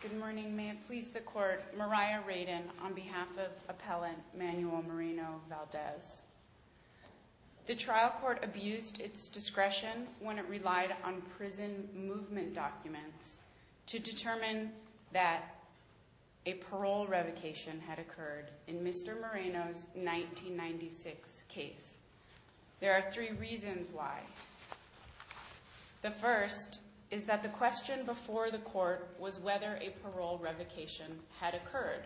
Good morning. May it please the court, Mariah Radin on behalf of appellant Manuel Moreno Valdez. The trial court abused its discretion when it relied on prison movement documents to determine that a parole revocation had occurred in Mr. Moreno's 1996 case. There are three reasons why. The first is that the question before the court was whether a parole revocation had occurred.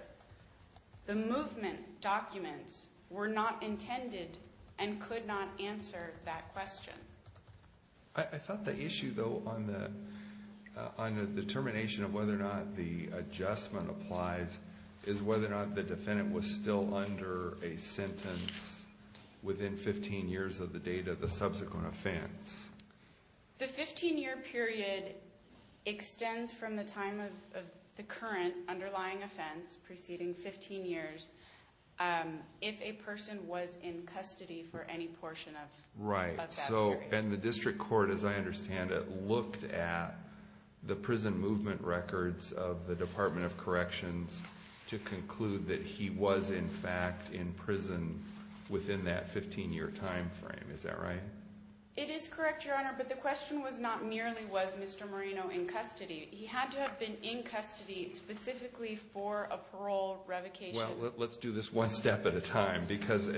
The movement documents were not intended and could not answer that question. I thought the issue though on the determination of whether or not the adjustment applies is whether or not the defendant was still under a sentence within 15 years of the date of the subsequent offense. Mariah Radin The 15 year period extends from the time of the current underlying offense preceding 15 years if a person was in custody for any portion of that period. Judge Goldberg Right. And the district court, as I understand it, looked at the prison movement records of the Department of Corrections to conclude that he was in fact in prison within that 15 year time frame. Is that right? Mariah Radin It is correct, Your Honor, but the question was not merely was Mr. Moreno in custody. He had to have been in custody specifically for a parole revocation. Judge Goldberg Well, let's do this one step at a time because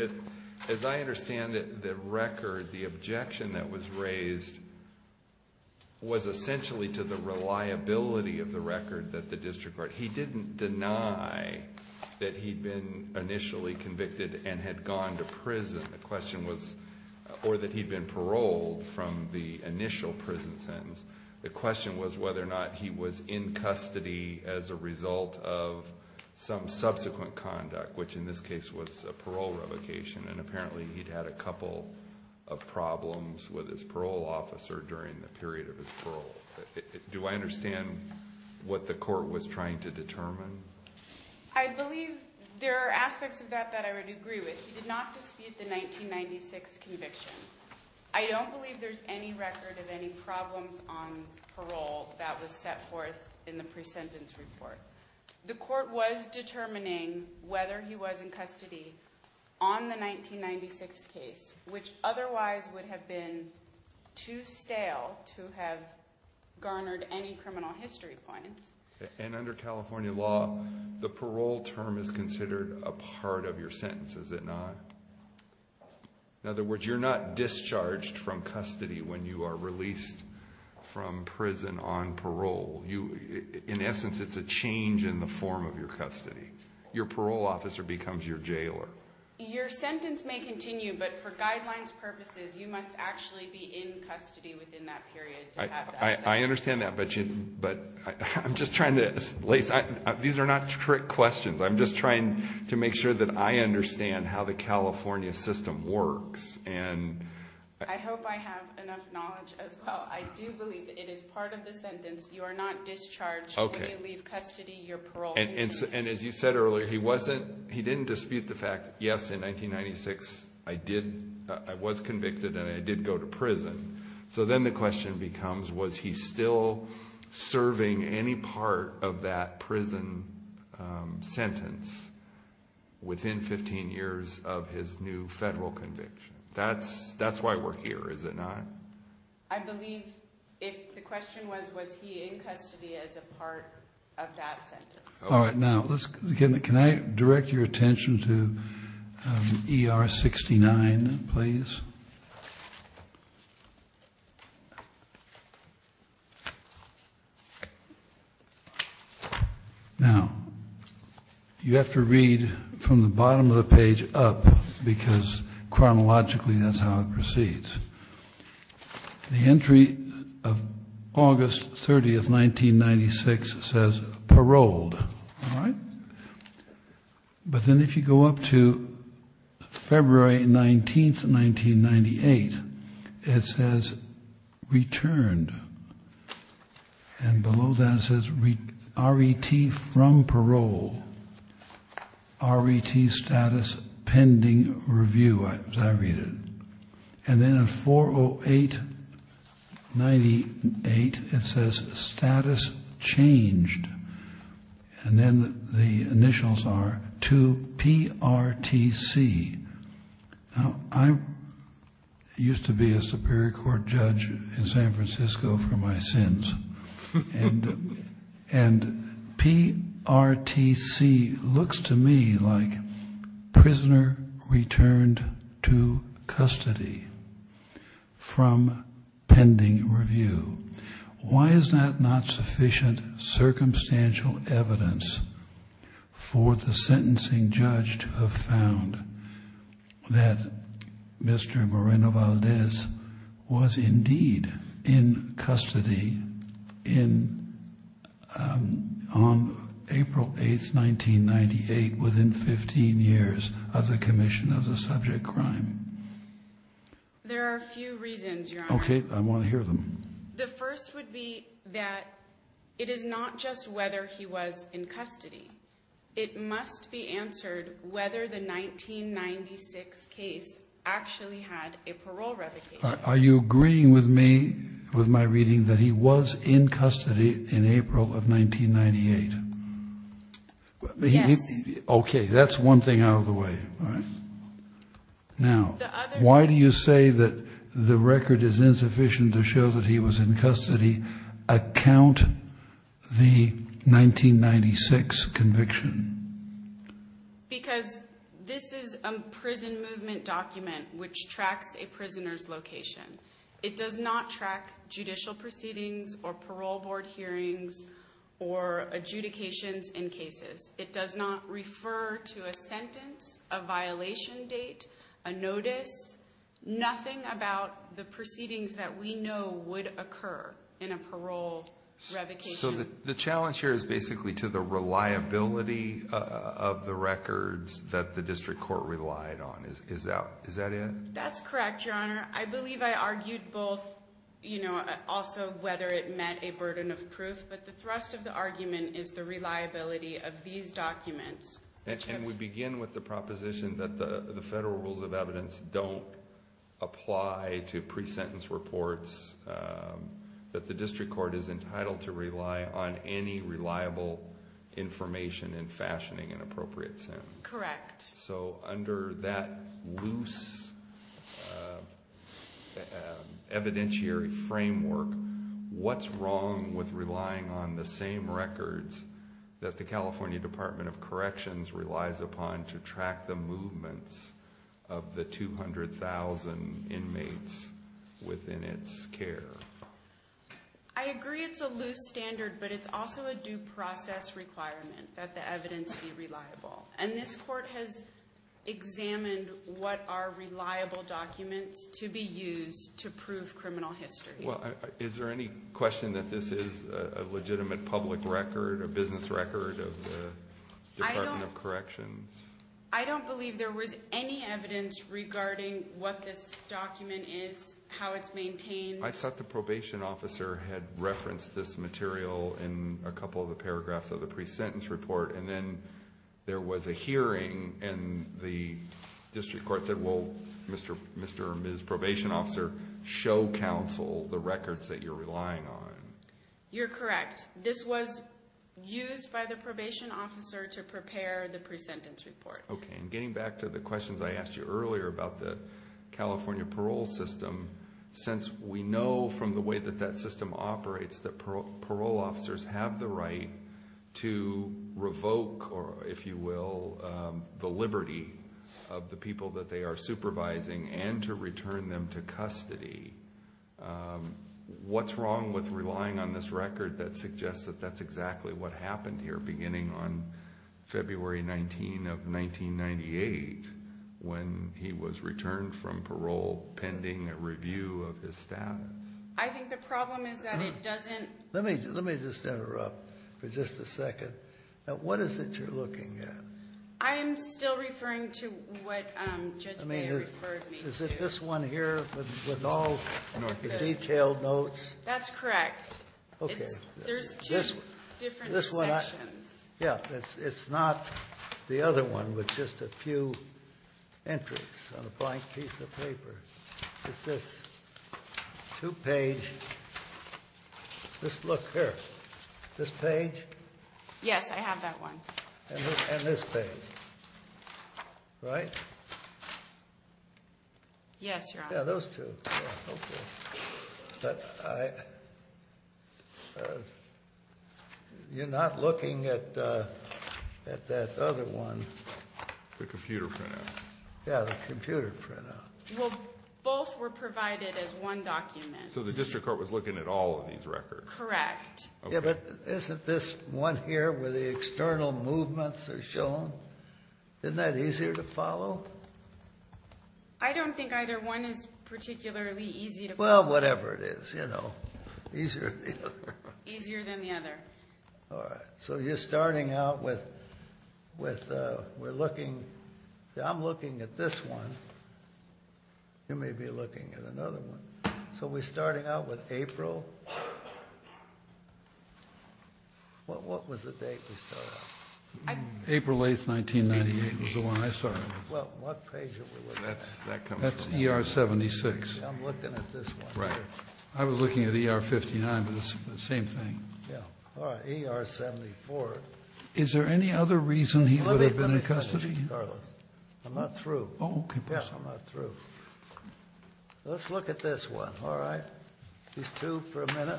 as I understand it, the record, the objection that was raised was essentially to the reliability of the record that the district court, he didn't deny that he'd been initially convicted and had gone to prison. The question was, or that he'd been paroled from the initial prison sentence. The question was whether or not he was in custody as a result of some subsequent conduct, which in this case was a parole revocation, and apparently he'd had a couple of problems with his parole officer during the period of his parole. Do I understand what the court was trying to determine? Mariah Radin I believe there are aspects of that that I would agree with. He did not dispute the 1996 conviction. I don't believe there's any record of any problems on parole that was set forth in the pre-sentence report. The court was determining whether he was in custody on the 1996 case, which otherwise would have been too stale to have garnered any criminal history points. Judge Goldberg And under California law, the parole term is considered a part of your sentence, is it not? In other words, you're not discharged from custody when you are released from prison on parole. In essence, it's a change in the form of your custody. Your parole officer becomes your jailer. Mariah Radin Your sentence may continue, but for guidelines purposes, you must actually be in custody within that period. Judge Goldberg I understand that, but I'm just trying to... Lace, these are not trick questions. I'm just trying to make sure that I understand how the California system works. Mariah Radin I hope I have enough knowledge as well. I do believe it is part of the sentence. You are not discharged when you leave custody. Your parole... Judge Goldberg And as you said earlier, he didn't dispute the fact, yes, in 1996, I was convicted and I did go to prison. So then the question becomes, was he still serving any part of that prison sentence within 15 years of his new federal conviction? That's why we're here, is it not? Mariah Radin I believe if the question was, was he in custody as a part of that sentence? All right. Now, can I direct your attention to ER 69, please? Now, you have to read from the bottom of the page up because chronologically that's how it proceeds. The entry of August 30th, 1996 says paroled. But then if you go up to February 19th, 1998, it says returned. And below that it says RET from parole, RET status pending review, as I read it. And then at 4-0-8-98, it says status changed. And then the initials are to PRTC. Now, I used to be a Superior Court judge in San Francisco for my sins. And PRTC looks to me like prisoner returned to custody from pending review. Why is that not sufficient circumstantial evidence for the sentencing judge to have found that Mr. Moreno-Valdez was indeed in custody on April 8th, 1998, within 15 years of the commission of the subject crime? Mariah Radin There are a few reasons, Your Honor. Okay. I want to hear them. Mariah Radin The first would be that it is not just whether he was in custody. It must be answered whether the Are you agreeing with me, with my reading that he was in custody in April of 1998? Mariah Radin Yes. Judge Goldberg Okay. That's one thing out of the way. All right. Now, why do you say that the record is insufficient to show that he was in custody, account the 1996 conviction? Mariah Radin Because this is a prison movement document which tracks a prisoner's location. It does not track judicial proceedings or parole board hearings or adjudications in cases. It does not refer to a sentence, a violation date, a notice, nothing about the proceedings that we know would occur in a parole revocation. The challenge here is basically to the reliability of the records that the district court relied on. Is that it? Mariah Radin That's correct, Your Honor. I believe I argued both, also whether it met a burden of proof, but the thrust of the argument is the reliability of these documents. Judge Goldberg We begin with the proposition that the federal rules of evidence don't apply to pre-sentence reports, that the district court is entitled to rely on any reliable information in fashioning an appropriate sentence. Mariah Radin Correct. Judge Goldberg So under that loose evidentiary framework, what's wrong with relying on the same records that the California Department of Corrections relies upon to track the movements of the 200,000 inmates within its care? Mariah Radin I agree it's a loose standard, but it's also a due process requirement that the evidence be reliable. And this court has examined what are reliable documents to be used to prove criminal history. Judge Goldberg Is there any question that this is a legitimate public record, a business record of the Department of Corrections? Mariah Radin I don't believe there was any evidence regarding what this document is, how it's maintained. Judge Goldberg I thought the probation officer had referenced this material in a couple of the paragraphs of the pre-sentence report, and then there was a hearing, and the district court said, well, Mr. or Ms. Probation Officer, show counsel the records that you're relying on. Mariah Radin You're correct. This was used by the probation officer to prepare the pre-sentence report. Judge Goldberg Getting back to the questions I asked you earlier about the California parole system, since we know from the way that that system operates that parole officers have the right to revoke, if you will, the liberty of the people that they are supervising and to return them to custody, what's wrong with relying on this record that suggests that that's exactly what happened here beginning on February 19 of 1998 when he was returned from parole pending a review of his status? Mariah Radin I think the problem is that it doesn't... Judge Goldberg Let me just interrupt for just a second. What is it you're looking at? Mariah Radin I am still referring to what Judge Mayer referred me to. Judge Goldberg Is it this one here with all the detailed notes? Mariah Radin That's correct. Judge Goldberg Okay. Mariah Radin There's two different sections. Judge Goldberg Yeah. It's not the other one with just a few entries on a blank piece of paper. It's this two-page... Just look here. This page? Mariah Radin Yes, I have that one. Judge Goldberg And this page, right? Mariah Radin Yes, Your Honor. Judge Goldberg Yeah, those two. Okay. You're not looking at that other one? Mariah Radin The computer printout. Yeah, the computer printout. Mariah Radin Well, both were provided as one document. Judge Goldberg So the district court was looking at all of these records? Mariah Radin Correct. Judge Goldberg Yeah, but isn't this one here where the external movements are shown? Isn't that easier to follow? Mariah Radin I don't think either one is particularly easy to follow. Judge Goldberg Well, whatever it is, you know, easier than the other. Mariah Radin Easier than the other. Judge Goldberg All right. So you're starting out with... We're looking... I'm looking at this one. You may be looking at another one. So we're starting out with April. What was the date we started out? Mariah Radin April 8th, 1998 was the one I started. Judge Goldberg Well, what page are we looking at? That's ER-76. Mariah Radin I'm looking at this one. Judge Goldberg Right. I was looking at ER-59, but it's the same thing. Mariah Radin Yeah. All right. ER-74. Judge Goldberg Is there any other reason he would have been in custody? Mariah Radin I'm not through. Judge Goldberg Oh, okay. Mariah Radin Yeah, I'm not through. Let's look at this one. All right. These two for a minute.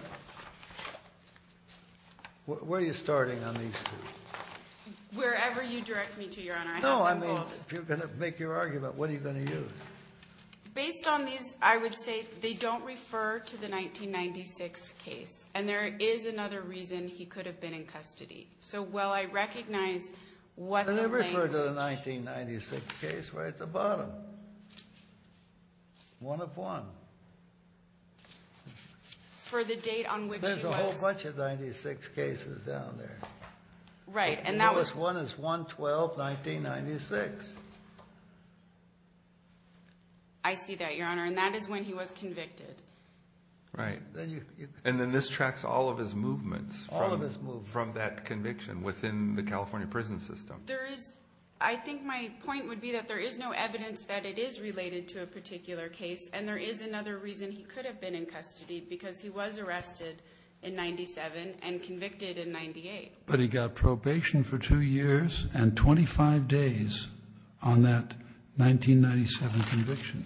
Where are you starting on these two? Mariah Radin Wherever you direct me to, Your Honor. I have them both. Judge Goldberg If you're going to make your argument, what are you going to use? Mariah Radin Based on these, I would say they don't refer to the 1996 case, and there is another reason he could have been in custody. So while I recognize what the language- Judge Goldberg Then refer to the 1996 case right at the bottom. One of one. Mariah Radin For the date on which he was- Judge Goldberg There's a whole bunch of 96 cases down there. Mariah Radin Right, and that was- Judge Goldberg I see that, Your Honor, and that is when he was convicted. Mariah Radin Right, and then this tracks all of his movements- Judge Goldberg All of his moves. Mariah Radin From that conviction within the California prison system. Judge Goldberg There is, I think my point would be that there is no evidence that it is related to a particular case, and there is another reason he could have been in custody, because he was arrested in 97 and convicted in 98. But he got probation for two years and 25 days on that 1997 conviction.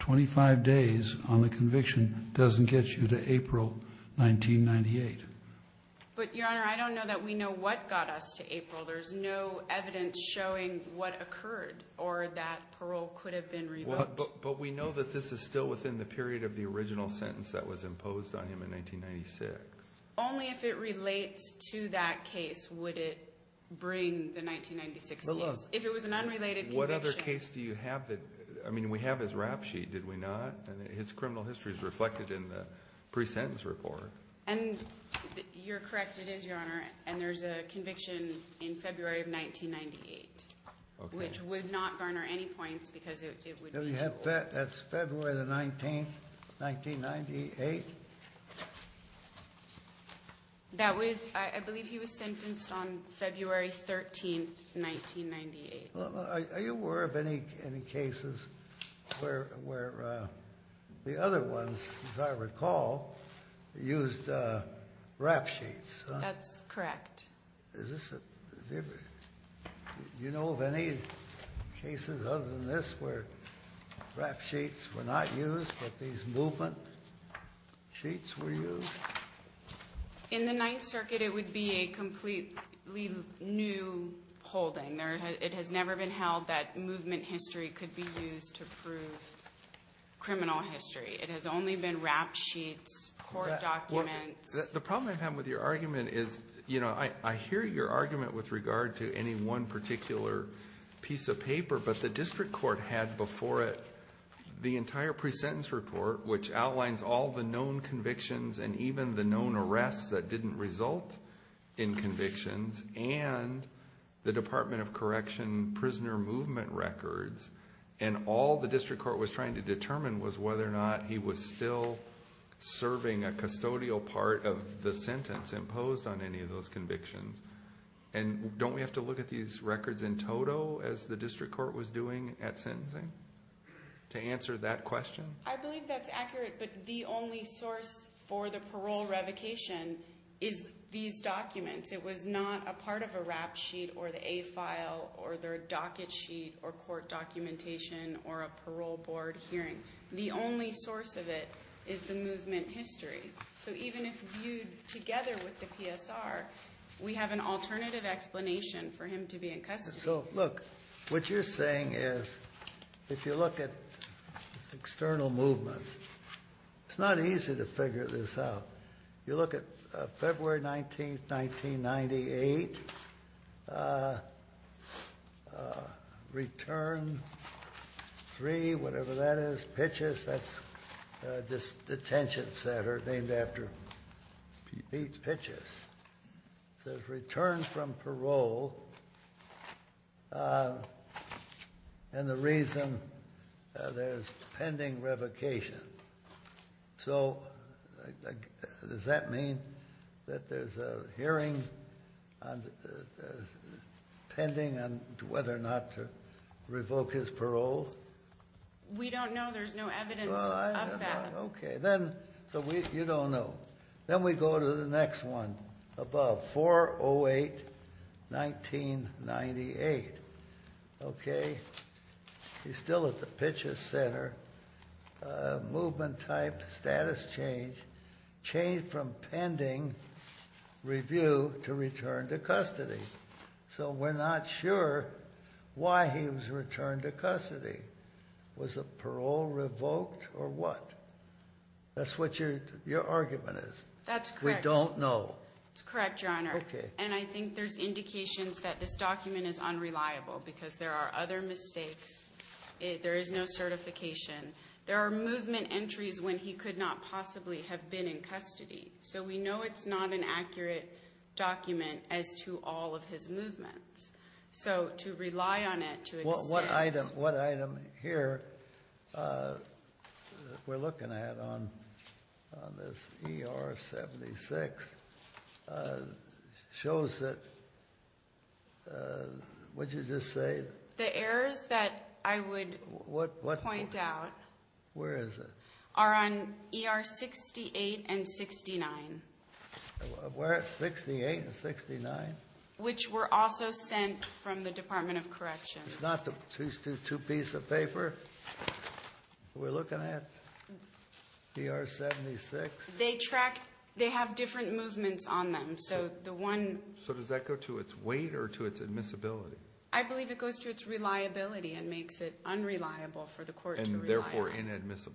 25 days on the conviction doesn't get you to April 1998. Mariah Radin But, Your Honor, I don't know that we know what got us to April. There's no evidence showing what occurred or that parole could have been revoked. Judge Goldberg But we know that this is still within the period of the original sentence that was imposed on him in 1996. Mariah Radin Only if it relates to that case would it bring the 1996 case. But look- Mariah Radin If it was an unrelated conviction- Judge Goldberg What other case do you have that, I mean, we have his rap sheet, did we not? His criminal history is reflected in the pre-sentence report. Mariah Radin And you're correct, it is, Your Honor, and there's a conviction in February of 1998. Judge Goldberg Okay. Which would not garner any points because it would- That's February the 19th, 1998? Mariah Radin That was, I believe he was sentenced on February 13th, 1998. Judge Goldberg Are you aware of any cases where the other ones, as I recall, used rap sheets? Mariah Radin That's correct. Judge Goldberg Is this a- Do you know of any cases other than this where rap sheets were not used, but these movement sheets were used? Mariah Radin In the Ninth Circuit, it would be a completely new holding. It has never been held that movement history could be used to prove criminal history. Judge Goldberg The problem I have with your argument is, I hear your argument with regard to any one particular piece of paper, but the district court had before it the entire pre-sentence report, which outlines all the known convictions and even the known arrests that didn't result in convictions, and the Department of Correction prisoner movement records, and all the district court was trying to determine was whether or not he was still serving a custodial part of the sentence imposed on any of those convictions. Don't we have to look at these records in total as the district court was doing at sentencing to answer that question? Mariah Radin I believe that's accurate, but the only source for the parole revocation is these documents. It was not a part of a rap sheet, or the A file, or their docket sheet, or court documentation, or a parole board hearing. The only source of it is the movement history. So even if viewed together with the PSR, we have an alternative explanation for him to be in custody. Judge Goldberg Look, what you're saying is, if you look at external movements, it's not easy to figure this out. You look at February 19, 1998, return three, whatever that is, Pitchess, that's just detention center named after Pete Pitchess, says return from parole, and the reason there's pending revocation. So does that mean that there's a hearing pending on whether or not to revoke his parole? Mariah Radin We don't know. There's no evidence of that. Judge Goldberg Okay, then you don't know. Then we go to the next one above, 4-08-1998. Okay, he's still at the Pitchess Center. Movement type, status change, change from pending review to return to custody. So we're not sure why he was returned to custody. Was the parole revoked or what? That's what your argument is. Mariah Radin That's correct. Judge Goldberg We don't know. Mariah Radin That's correct, Your Honor. Judge Goldberg Okay. Mariah Radin And I think there's indications that this document is unreliable, because there are other mistakes. There is no certification. There are movement entries when he could not possibly have been in custody. So we know it's not an accurate document as to all of his movements. So to rely on it, to extend— Judge Goldberg What item here we're looking at on this ER-76 shows that, what did you just say? Mariah Radin The errors that I would point out— Judge Goldberg Where is it? Mariah Radin —are on ER-68 and 69. What? 68 and 69? Mariah Radin Which were also sent from the Department of Corrections. Judge Goldberg It's not the two-piece of paper we're looking at? ER-76? Mariah Radin They track—they have different movements on them. So the one— Judge Goldberg So does that go to its weight or to its admissibility? Mariah Radin I believe it goes to its reliability and makes it unreliable for the court to rely on. Judge Goldberg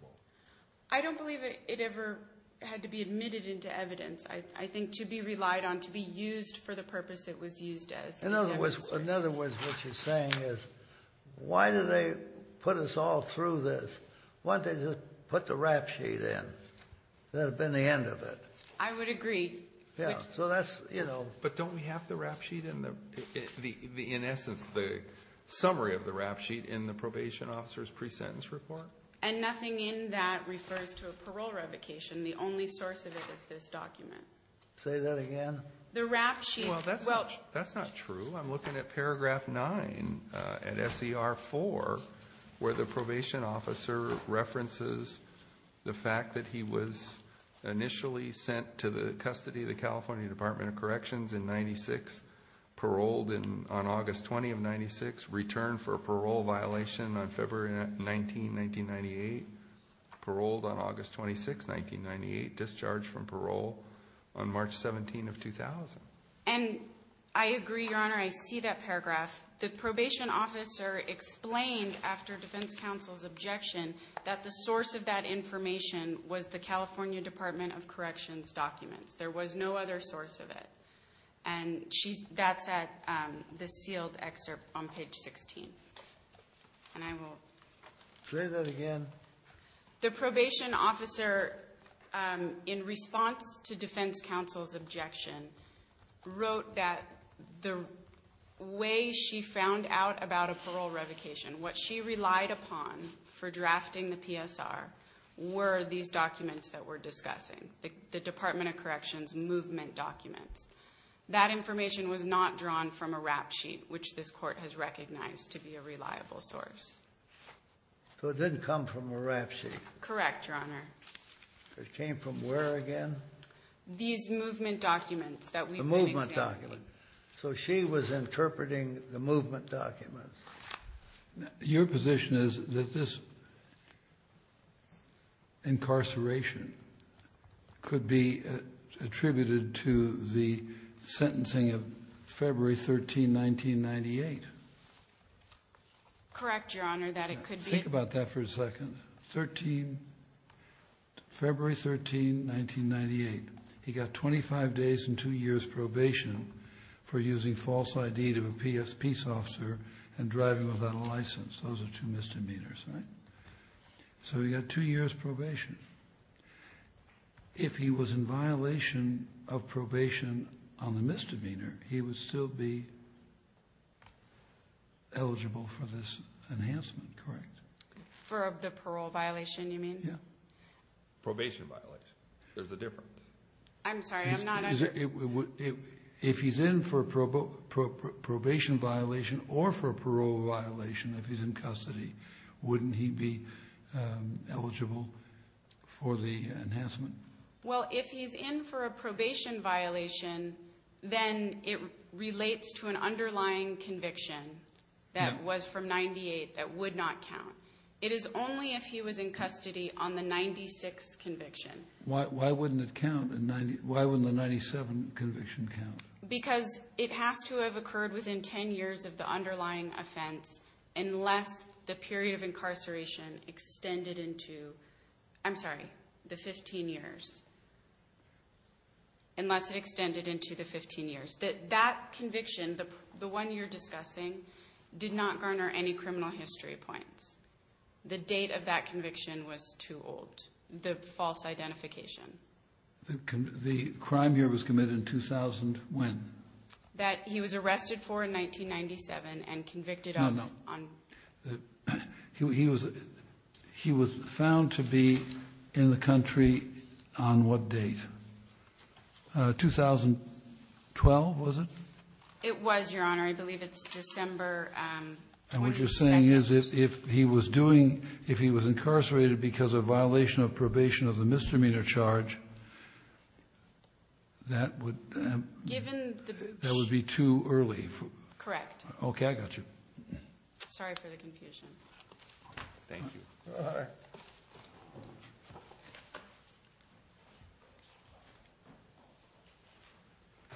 I don't believe it ever had to be admitted into evidence. I think to be relied on, to be used for the purpose it was used as. Judge Goldberg In other words, what you're saying is, why do they put us all through this? Why don't they just put the rap sheet in? That would have been the end of it. Mariah Radin I would agree. Judge Goldberg Yeah. So that's, you know— Mariah Radin But don't we have the rap sheet in the—in essence, the summary of the rap sheet in the probation officer's presentence report? And nothing in that refers to a parole revocation. The only source of it is this document. Judge Goldberg Say that again. Mariah Radin The rap sheet— Judge Goldberg Well, that's not true. I'm looking at paragraph 9 at SER 4, where the probation officer references the fact that he was initially sent to the custody of the California Department of Corrections in 1998, paroled on August 26, 1998, discharged from parole on March 17 of 2000. Mariah Radin And I agree, Your Honor. I see that paragraph. The probation officer explained after defense counsel's objection that the source of that information was the California Department of Corrections documents. There was no other source of it. And that's at the sealed excerpt on page 16. And I will— Judge Goldberg The probation officer, in response to defense counsel's objection, wrote that the way she found out about a parole revocation, what she relied upon for drafting the PSR, were these documents that we're discussing, the Department of Corrections movement documents. That information was not drawn from a rap sheet, which this court has recognized to be a reliable source. Mariah Radin So it didn't come from a rap sheet? Judge Goldberg Correct, Your Honor. Mariah Radin It came from where again? These movement documents that we've been examining. Mariah Radin The movement documents. So she was interpreting the movement documents. Judge Breyer Your position is that this incarceration could be attributed to the sentencing of February 13, 1998? Mariah Radin Correct, Your Honor, that it could be— Judge Breyer Think about that for a second. February 13, 1998. He got 25 days and two years probation for using false ID to a peace officer and driving without a license. Those are two misdemeanors, right? So he got two years probation. If he was in violation of probation on the misdemeanor, he would still be eligible for this enhancement, correct? Mariah Radin For the parole violation, you mean? Judge Breyer Yeah. Mariah Radin Probation violation. There's a difference. Judge Breyer I'm sorry, I'm not— Judge Breyer If he's in for a probation violation or for a parole violation if he's in custody, wouldn't he be eligible for the enhancement? Mariah Radin Well, if he's in for a probation violation, then it relates to an underlying conviction that was from 1998 that would not count. It is only if he was in custody on the 1996 conviction. Judge Breyer Why wouldn't it count? Why wouldn't the 1997 conviction count? Mariah Radin Because it has to have occurred within 10 years of the underlying offense unless the period of incarceration extended into—I'm sorry, the 15 years. Unless it extended into the 15 years. That conviction, the one you're discussing, did not garner any criminal history points. The date of that conviction was too old, the false identification. Judge Breyer Mariah Radin Mariah Radin He was found to be in the country on what date? 2012, was it? Mariah Radin It was, Your Honor. I believe it's December 22nd. Judge Breyer And what you're saying is if he was doing—if he was incarcerated because of violation of probation of the misdemeanor charge, that would— Mariah Radin Given the— Judge Breyer Mariah Radin Okay, I got you. Judge Breyer Sorry for the confusion. Thank you. Judge Breyer All right. Aaron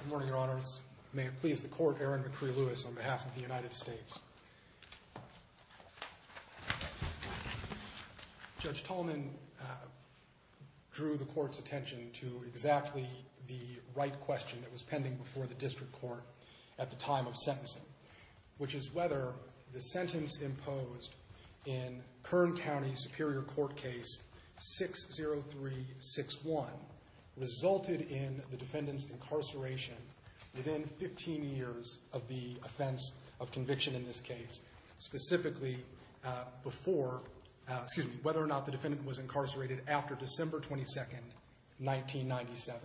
McCree-Lewis Good morning, Your Honors. May it please the Court, Aaron McCree-Lewis on behalf of the United States. Judge Tolman drew the Court's attention to exactly the right question that was pending before the District Court at the time of sentencing, which is whether the sentence imposed in Kern County Superior Court case 60361 resulted in the defendant's incarceration within 15 years of the offense of conviction in this case, specifically before—excuse me—whether or not the defendant was incarcerated after December 22nd, 1997.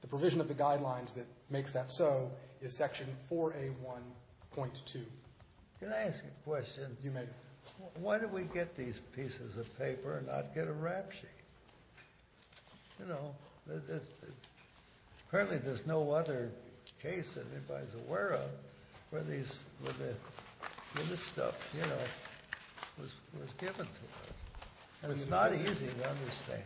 The provision of the guidelines that makes that so is Section 4A1.2. Judge Breyer Can I ask you a question? Judge Tolman You may. Judge Breyer Why did we get these pieces of paper and not get a rap sheet? You know, apparently there's no other case that anybody's aware of where this stuff, you know, was given to us. And it's not easy to understand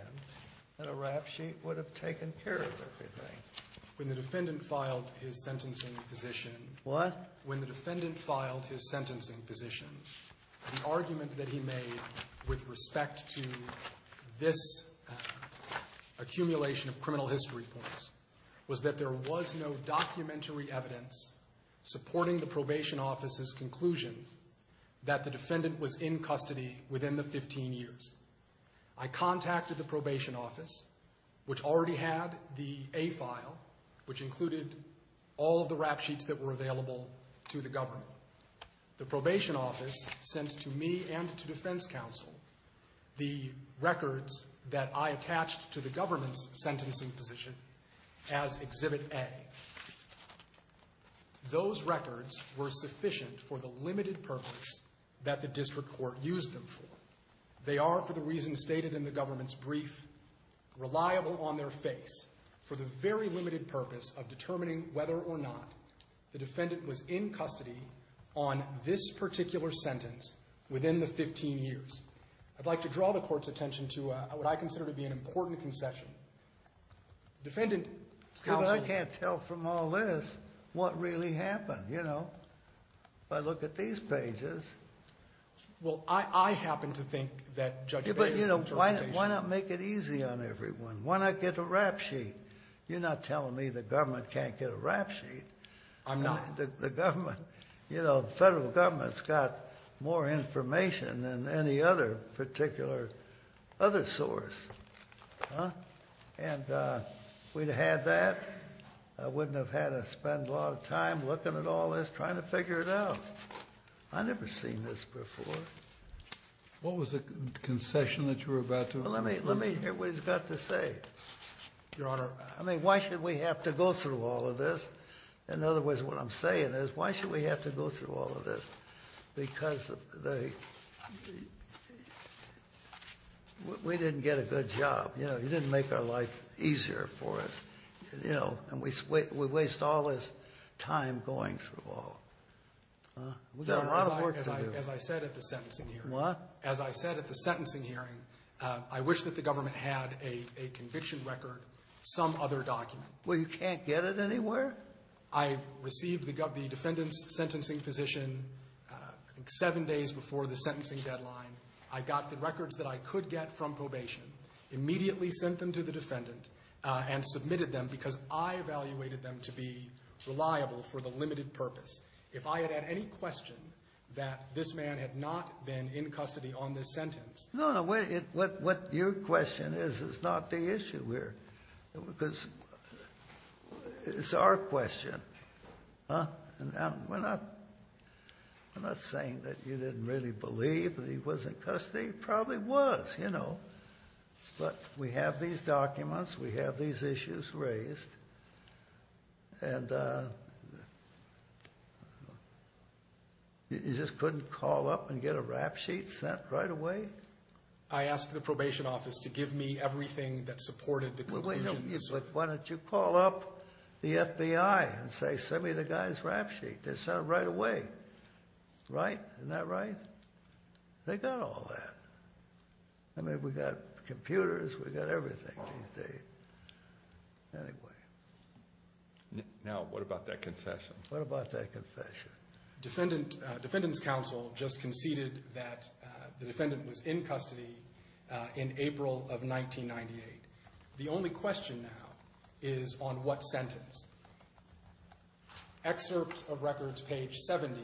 that a rap sheet would have taken care of everything. Aaron McCree-Lewis When the defendant filed his sentencing position— What? Aaron McCree-Lewis When the defendant filed his sentencing position, the argument that he made with respect to this accumulation of criminal history points was that there was no documentary evidence supporting the probation office's conclusion that the defendant was in custody within the 15 years. I contacted the probation office, which already had the A file, which included all of the rap sheets that were available to the government. The probation office sent to me and to defense counsel the records that I attached to the government's sentencing position as Exhibit A. Those records were sufficient for the limited purpose that the district court used them for. They are, for the reasons stated in the government's brief, reliable on their face for the very limited purpose of determining whether or not the defendant was in custody on this particular sentence within the 15 years. I'd like to draw the court's attention to what I consider to be an important concession. Defendant, counsel— I can't tell from all this what really happened, you know, if I look at these pages. Well, I happen to think that Judge Bates' interpretation— Yeah, but, you know, why not make it easy on everyone? Why not get a rap sheet? You're not telling me the government can't get a rap sheet. I'm not. The government, you know, the federal government's got more information than any other particular other source, huh? And if we'd have had that, I wouldn't have had to spend a lot of time looking at all this trying to figure it out. I've never seen this before. What was the concession that you were about to— Well, let me hear what he's got to say. Your Honor— I mean, why should we have to go through all of this? In other words, what I'm saying is, why should we have to go through all of this? Because we didn't get a good job. You know, you didn't make our life easier for us. You know, and we waste all this time going through all— We've got a lot of work to do. As I said at the sentencing hearing— What? As I said at the sentencing hearing, I wish that the government had a conviction record, some other document. Well, you can't get it anywhere? I received the defendant's sentencing position, I think, seven days before the sentencing deadline. I got the records that I could get from probation. Immediately sent them to the defendant and submitted them because I evaluated them to be reliable for the limited purpose. If I had had any question that this man had not been in custody on this sentence— No, no, what your question is, is not the issue here. Because it's our question, huh? And we're not saying that you didn't really believe that he was in custody. He probably was, you know. But we have these documents. We have these issues raised. And you just couldn't call up and get a rap sheet sent right away? I asked the probation office to give me everything that supported the conclusions. But why don't you call up the FBI and say, send me the guy's rap sheet? They sent it right away. Right? Isn't that right? They got all that. I mean, we got computers. We got everything these days. Anyway. Now, what about that confession? What about that confession? Defendant's counsel just conceded that the defendant was in custody in April of 1998. The only question now is on what sentence. Excerpt of records, page 70,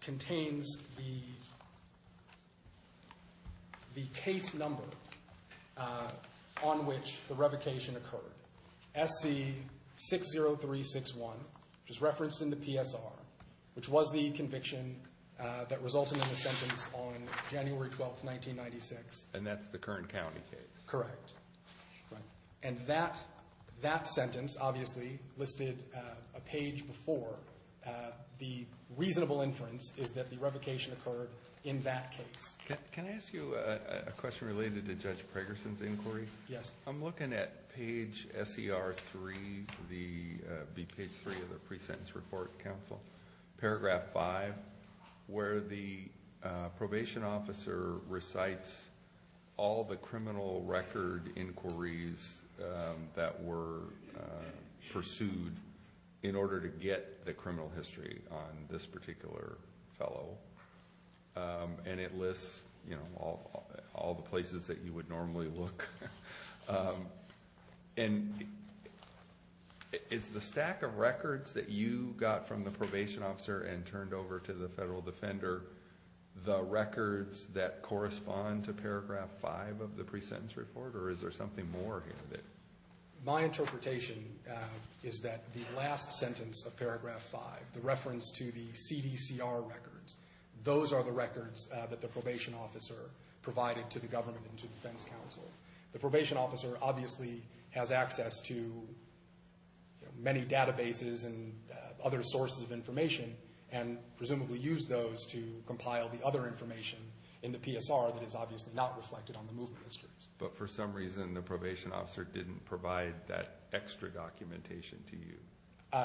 contains the case number on which the revocation occurred. SC-60361, which is referenced in the PSR, which was the conviction that resulted in the sentence on January 12, 1996. And that's the Kern County case? Correct. Right. And that sentence, obviously, listed a page before. The reasonable inference is that the revocation occurred in that case. Can I ask you a question related to Judge Pragerson's inquiry? Yes. I'm looking at page SER3, page 3 of the pre-sentence report, counsel, paragraph 5, where the probation officer recites all the criminal record inquiries that were pursued in order to get the criminal history on this particular fellow. And it lists all the places that you would normally look. And is the stack of records that you got from the probation officer and the federal defender, the records that correspond to paragraph 5 of the pre-sentence report, or is there something more? My interpretation is that the last sentence of paragraph 5, the reference to the CDCR records, those are the records that the probation officer provided to the government and to defense counsel. The probation officer, obviously, has access to many databases and other sources of information and presumably used those to compile the other information in the PSR that is obviously not reflected on the movement histories. But for some reason, the probation officer didn't provide that extra documentation to you?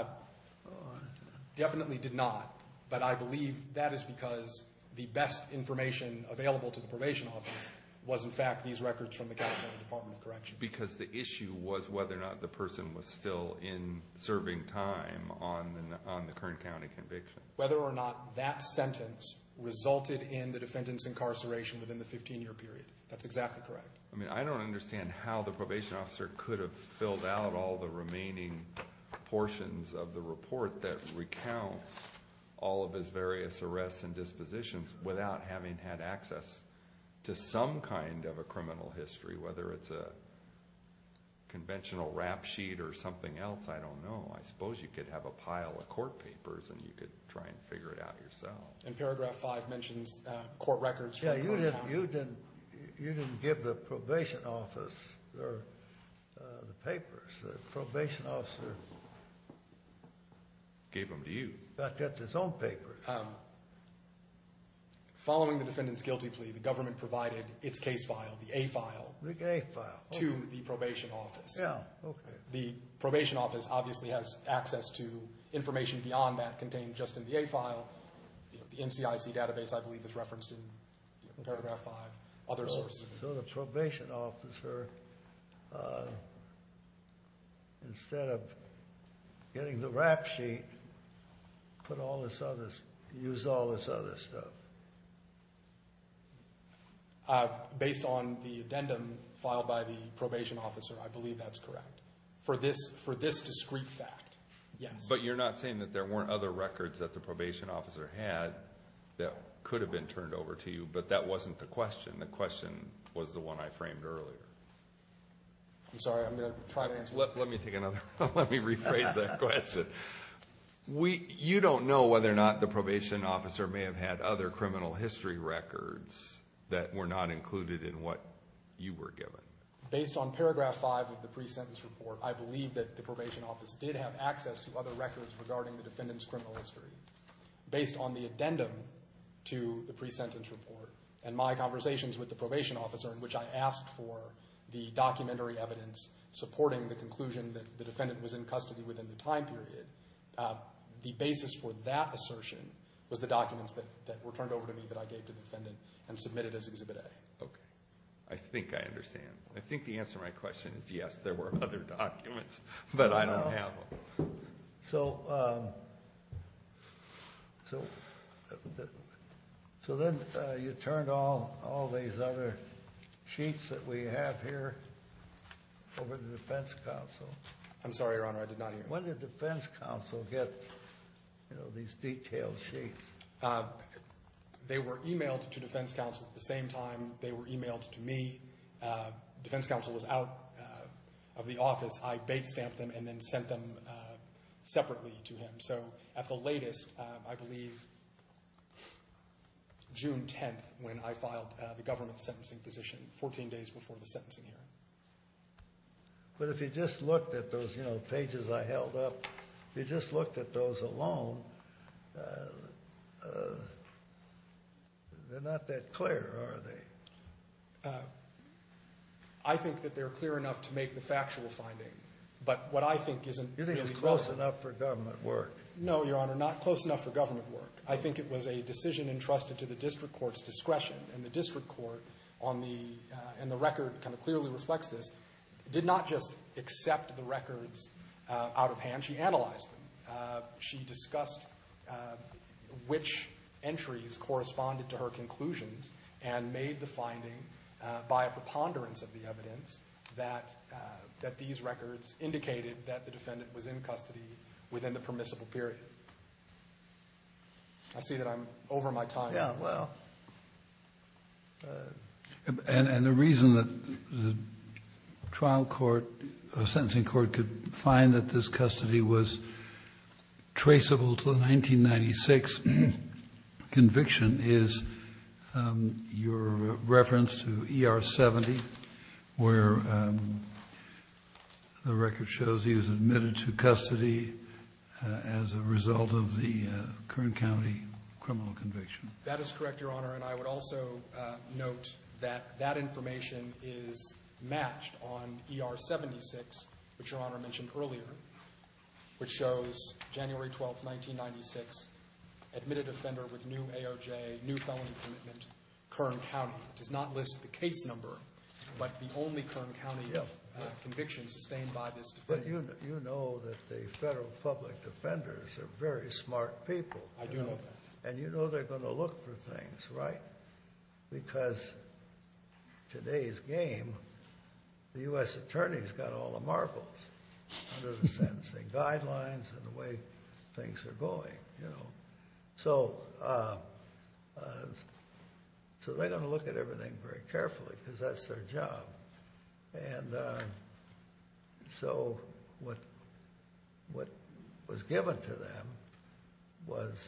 Definitely did not. But I believe that is because the best information available to the probation office was, in fact, these records from the California Department of Corrections. Because the issue was whether or not the person was still in serving time on the Kern County conviction. Whether or not that sentence resulted in the defendant's incarceration within the 15-year period. That's exactly correct. I mean, I don't understand how the probation officer could have filled out all the remaining portions of the report that recounts all of his various arrests and dispositions without having had access to some kind of a criminal history, whether it's a conventional rap sheet or something else. I don't know. I suppose you could have a pile of court papers and you could try and figure it out yourself. And paragraph 5 mentions court records. Yeah, you didn't give the probation office the papers. The probation officer... Gave them to you. ...got to get his own papers. Following the defendant's guilty plea, the government provided its case file, the A file. To the probation office. Yeah, okay. The probation office obviously has access to information beyond that contained just in the A file. The NCIC database, I believe, is referenced in paragraph 5. Other sources. So the probation officer, instead of getting the rap sheet, used all this other stuff. Based on the addendum filed by the probation officer, I believe that's correct. For this discrete fact, yes. But you're not saying that there weren't other records that the probation officer had that could have been turned over to you, but that wasn't the question. The question was the one I framed earlier. I'm sorry. I'm going to try to answer that. Let me take another one. Let me rephrase that question. We, you don't know whether or not the probation officer may have had other criminal history records that were not included in what you were given. Based on paragraph 5 of the pre-sentence report, I believe that the probation office did have access to other records regarding the defendant's criminal history. Based on the addendum to the pre-sentence report and my conversations with the probation officer, in which I asked for the documentary evidence supporting the conclusion that the defendant was in custody within the time period, the basis for that assertion was the documents that were turned over to me that I gave to the defendant and submitted as Exhibit A. Okay. I think I understand. I think the answer to my question is yes, there were other documents, but I don't have them. So then you turned all these other sheets that we have here over to the defense counsel. I'm sorry, Your Honor. I did not hear you. When did the defense counsel get these detailed sheets? They were emailed to defense counsel at the same time they were emailed to me. Defense counsel was out of the office. I bait-stamped them and then sent them separately to him. So at the latest, I believe June 10th when I filed the government sentencing position, 14 days before the sentencing hearing. But if you just looked at those pages I held up, if you just looked at those alone, they're not that clear, are they? I think that they're clear enough to make the factual finding. But what I think isn't really clear. You think it's close enough for government work? No, Your Honor, not close enough for government work. I think it was a decision entrusted to the district court's discretion. And the district court on the record kind of clearly reflects this, did not just accept the records out of hand. She analyzed them. She discussed which entries corresponded to her conclusions and made the finding by a preponderance of the evidence that these records indicated that the defendant was in custody within the permissible period. I see that I'm over my time. Yeah, well. And the reason that the trial court, the sentencing court could find that this custody was traceable to the 1996 conviction is your reference to ER 70, where the record shows he was admitted to custody as a result of the Kern County criminal conviction. That is correct, Your Honor. And I would also note that that information is matched on ER 76, which Your Honor mentioned earlier, which shows January 12th, 1996, admitted offender with new AOJ, new felony commitment, Kern County. It does not list the case number, but the only Kern County conviction sustained by this defendant. But you know that the federal public defenders are very smart people. I do know that. And you know they're going to look for things, right? Because today's game, the U.S. Attorney's got all the marbles. Under the sentencing guidelines and the way things are going, you know. So they're going to look at everything very carefully, because that's their job. And so what was given to them was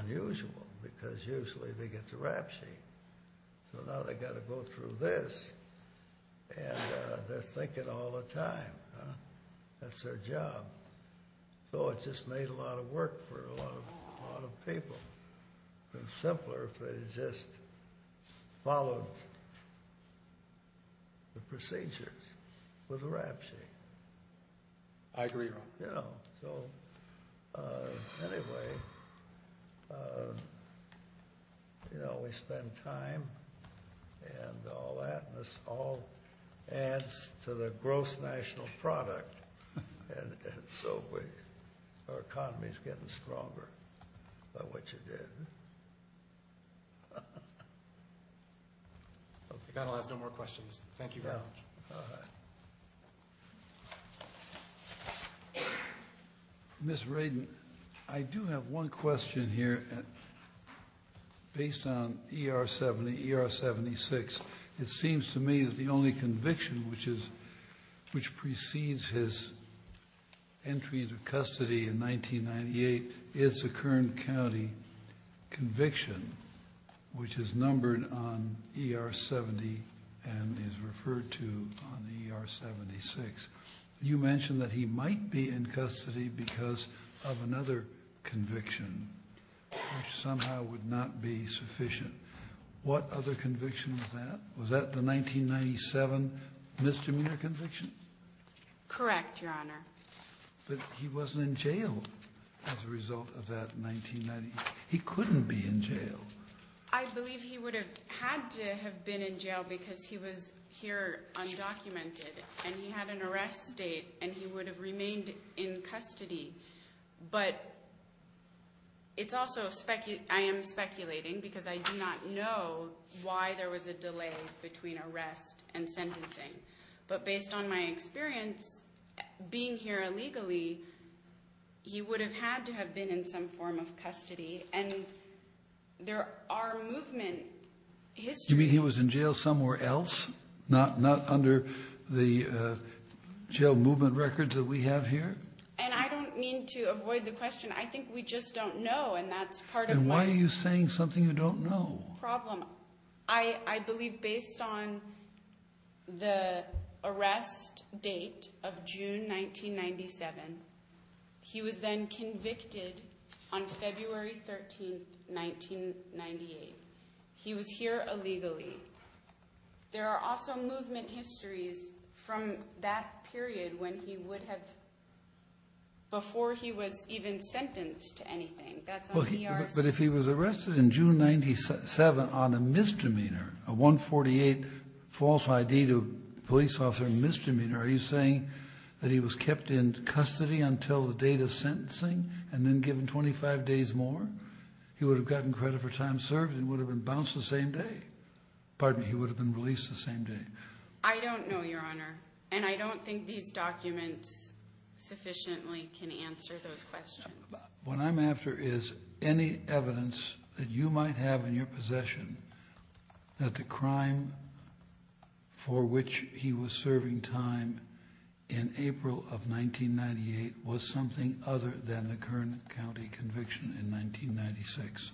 unusual, because usually they get the rap sheet. So now they got to go through this, and they're thinking all the time. That's their job. So it just made a lot of work for a lot of people. It would be simpler if they just followed the procedures with a rap sheet. I agree, Your Honor. Yeah. So anyway, we spend time and all that. This all adds to the gross national product. And so our economy's getting stronger by what you did. I'll ask no more questions. Thank you very much. Ms. Radin, I do have one question here. And based on ER-70, ER-76, it seems to me that the only conviction which precedes his entry into custody in 1998 is the Kern County conviction, which is numbered on ER-70 and is referred to on ER-76. You mentioned that he might be in custody because of another conviction. Which somehow would not be sufficient. What other conviction was that? Was that the 1997 misdemeanor conviction? Correct, Your Honor. But he wasn't in jail as a result of that 1998. He couldn't be in jail. I believe he would have had to have been in jail because he was here undocumented. And he had an arrest date. And he would have remained in custody. But I am speculating because I do not know why there was a delay between arrest and sentencing. But based on my experience, being here illegally, he would have had to have been in some form of custody. And there are movement histories. You mean he was in jail somewhere else? Not under the jail movement records that we have here? And I don't mean to avoid the question. I think we just don't know. And that's part of why. And why are you saying something you don't know? Problem. I believe based on the arrest date of June 1997, he was then convicted on February 13, 1998. He was here illegally. There are also movement histories from that period when he would have, before he was even sentenced to anything. But if he was arrested in June 1997 on a misdemeanor, a 148 false ID to a police officer misdemeanor, are you saying that he was kept in custody until the date of sentencing and then given 25 days more? He would have gotten credit for time served and would have been bounced the same day. Pardon me. He would have been released the same day. I don't know, Your Honor. And I don't think these documents sufficiently can answer those questions. What I'm after is any evidence that you might have in your possession that the crime for which he was serving time in April of 1998 was something other than the Kern County conviction in 1996.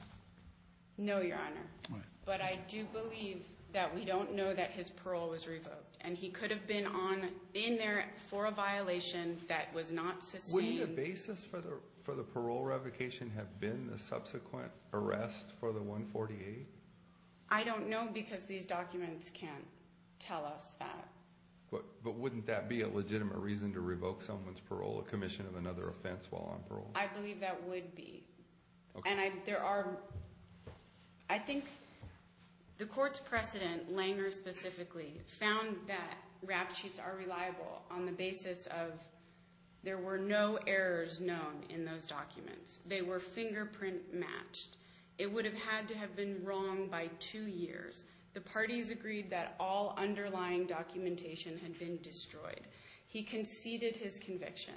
No, Your Honor. But I do believe that we don't know that his parole was revoked and he could have been on in there for a violation that was not sustained. Wouldn't the basis for the parole revocation have been the subsequent arrest for the 148? I don't know because these documents can't tell us that. But wouldn't that be a legitimate reason to revoke someone's parole, a commission of another offense while on parole? I believe that would be. And there are, I think the court's precedent, Langer specifically, found that rap sheets are reliable on the basis of there were no errors known in those documents. They were fingerprint matched. It would have had to have been wrong by two years. The parties agreed that all underlying documentation had been destroyed. He conceded his conviction.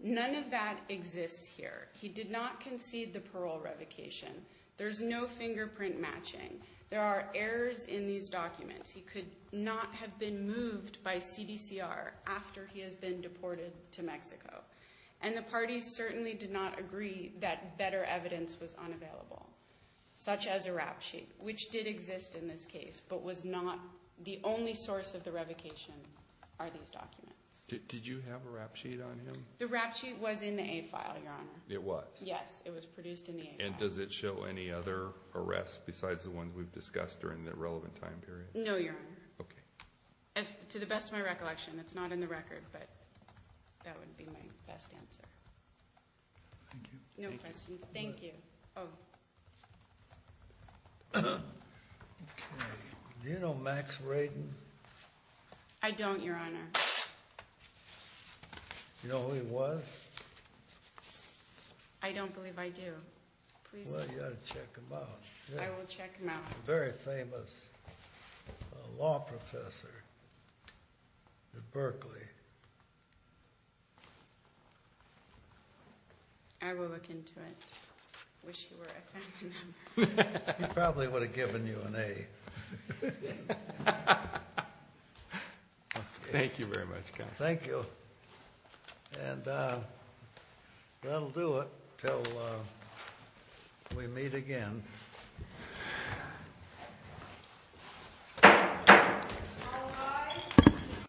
None of that exists here. He did not concede the parole revocation. There's no fingerprint matching. There are errors in these documents. He could not have been moved by CDCR after he has been deported to Mexico. And the parties certainly did not agree that better evidence was unavailable, such as a rap sheet, which did exist in this case, but was not the only source of the revocation are these documents. Did you have a rap sheet on him? The rap sheet was in the A file, Your Honor. It was? Yes. It was produced in the A file. And does it show any other arrests besides the ones we've discussed during the relevant time period? No, Your Honor. Okay. As to the best of my recollection, it's not in the record, but that would be my best answer. Thank you. No questions. Thank you. Oh. Okay. Do you know Max Radin? I don't, Your Honor. You know who he was? I don't believe I do. Please do. Well, you ought to check him out. I will check him out. He's a very famous law professor at Berkeley. I will look into it. I wish he were a feminine. He probably would have given you an A. Thank you very much, Counselor. Thank you. And that'll do it until we meet again.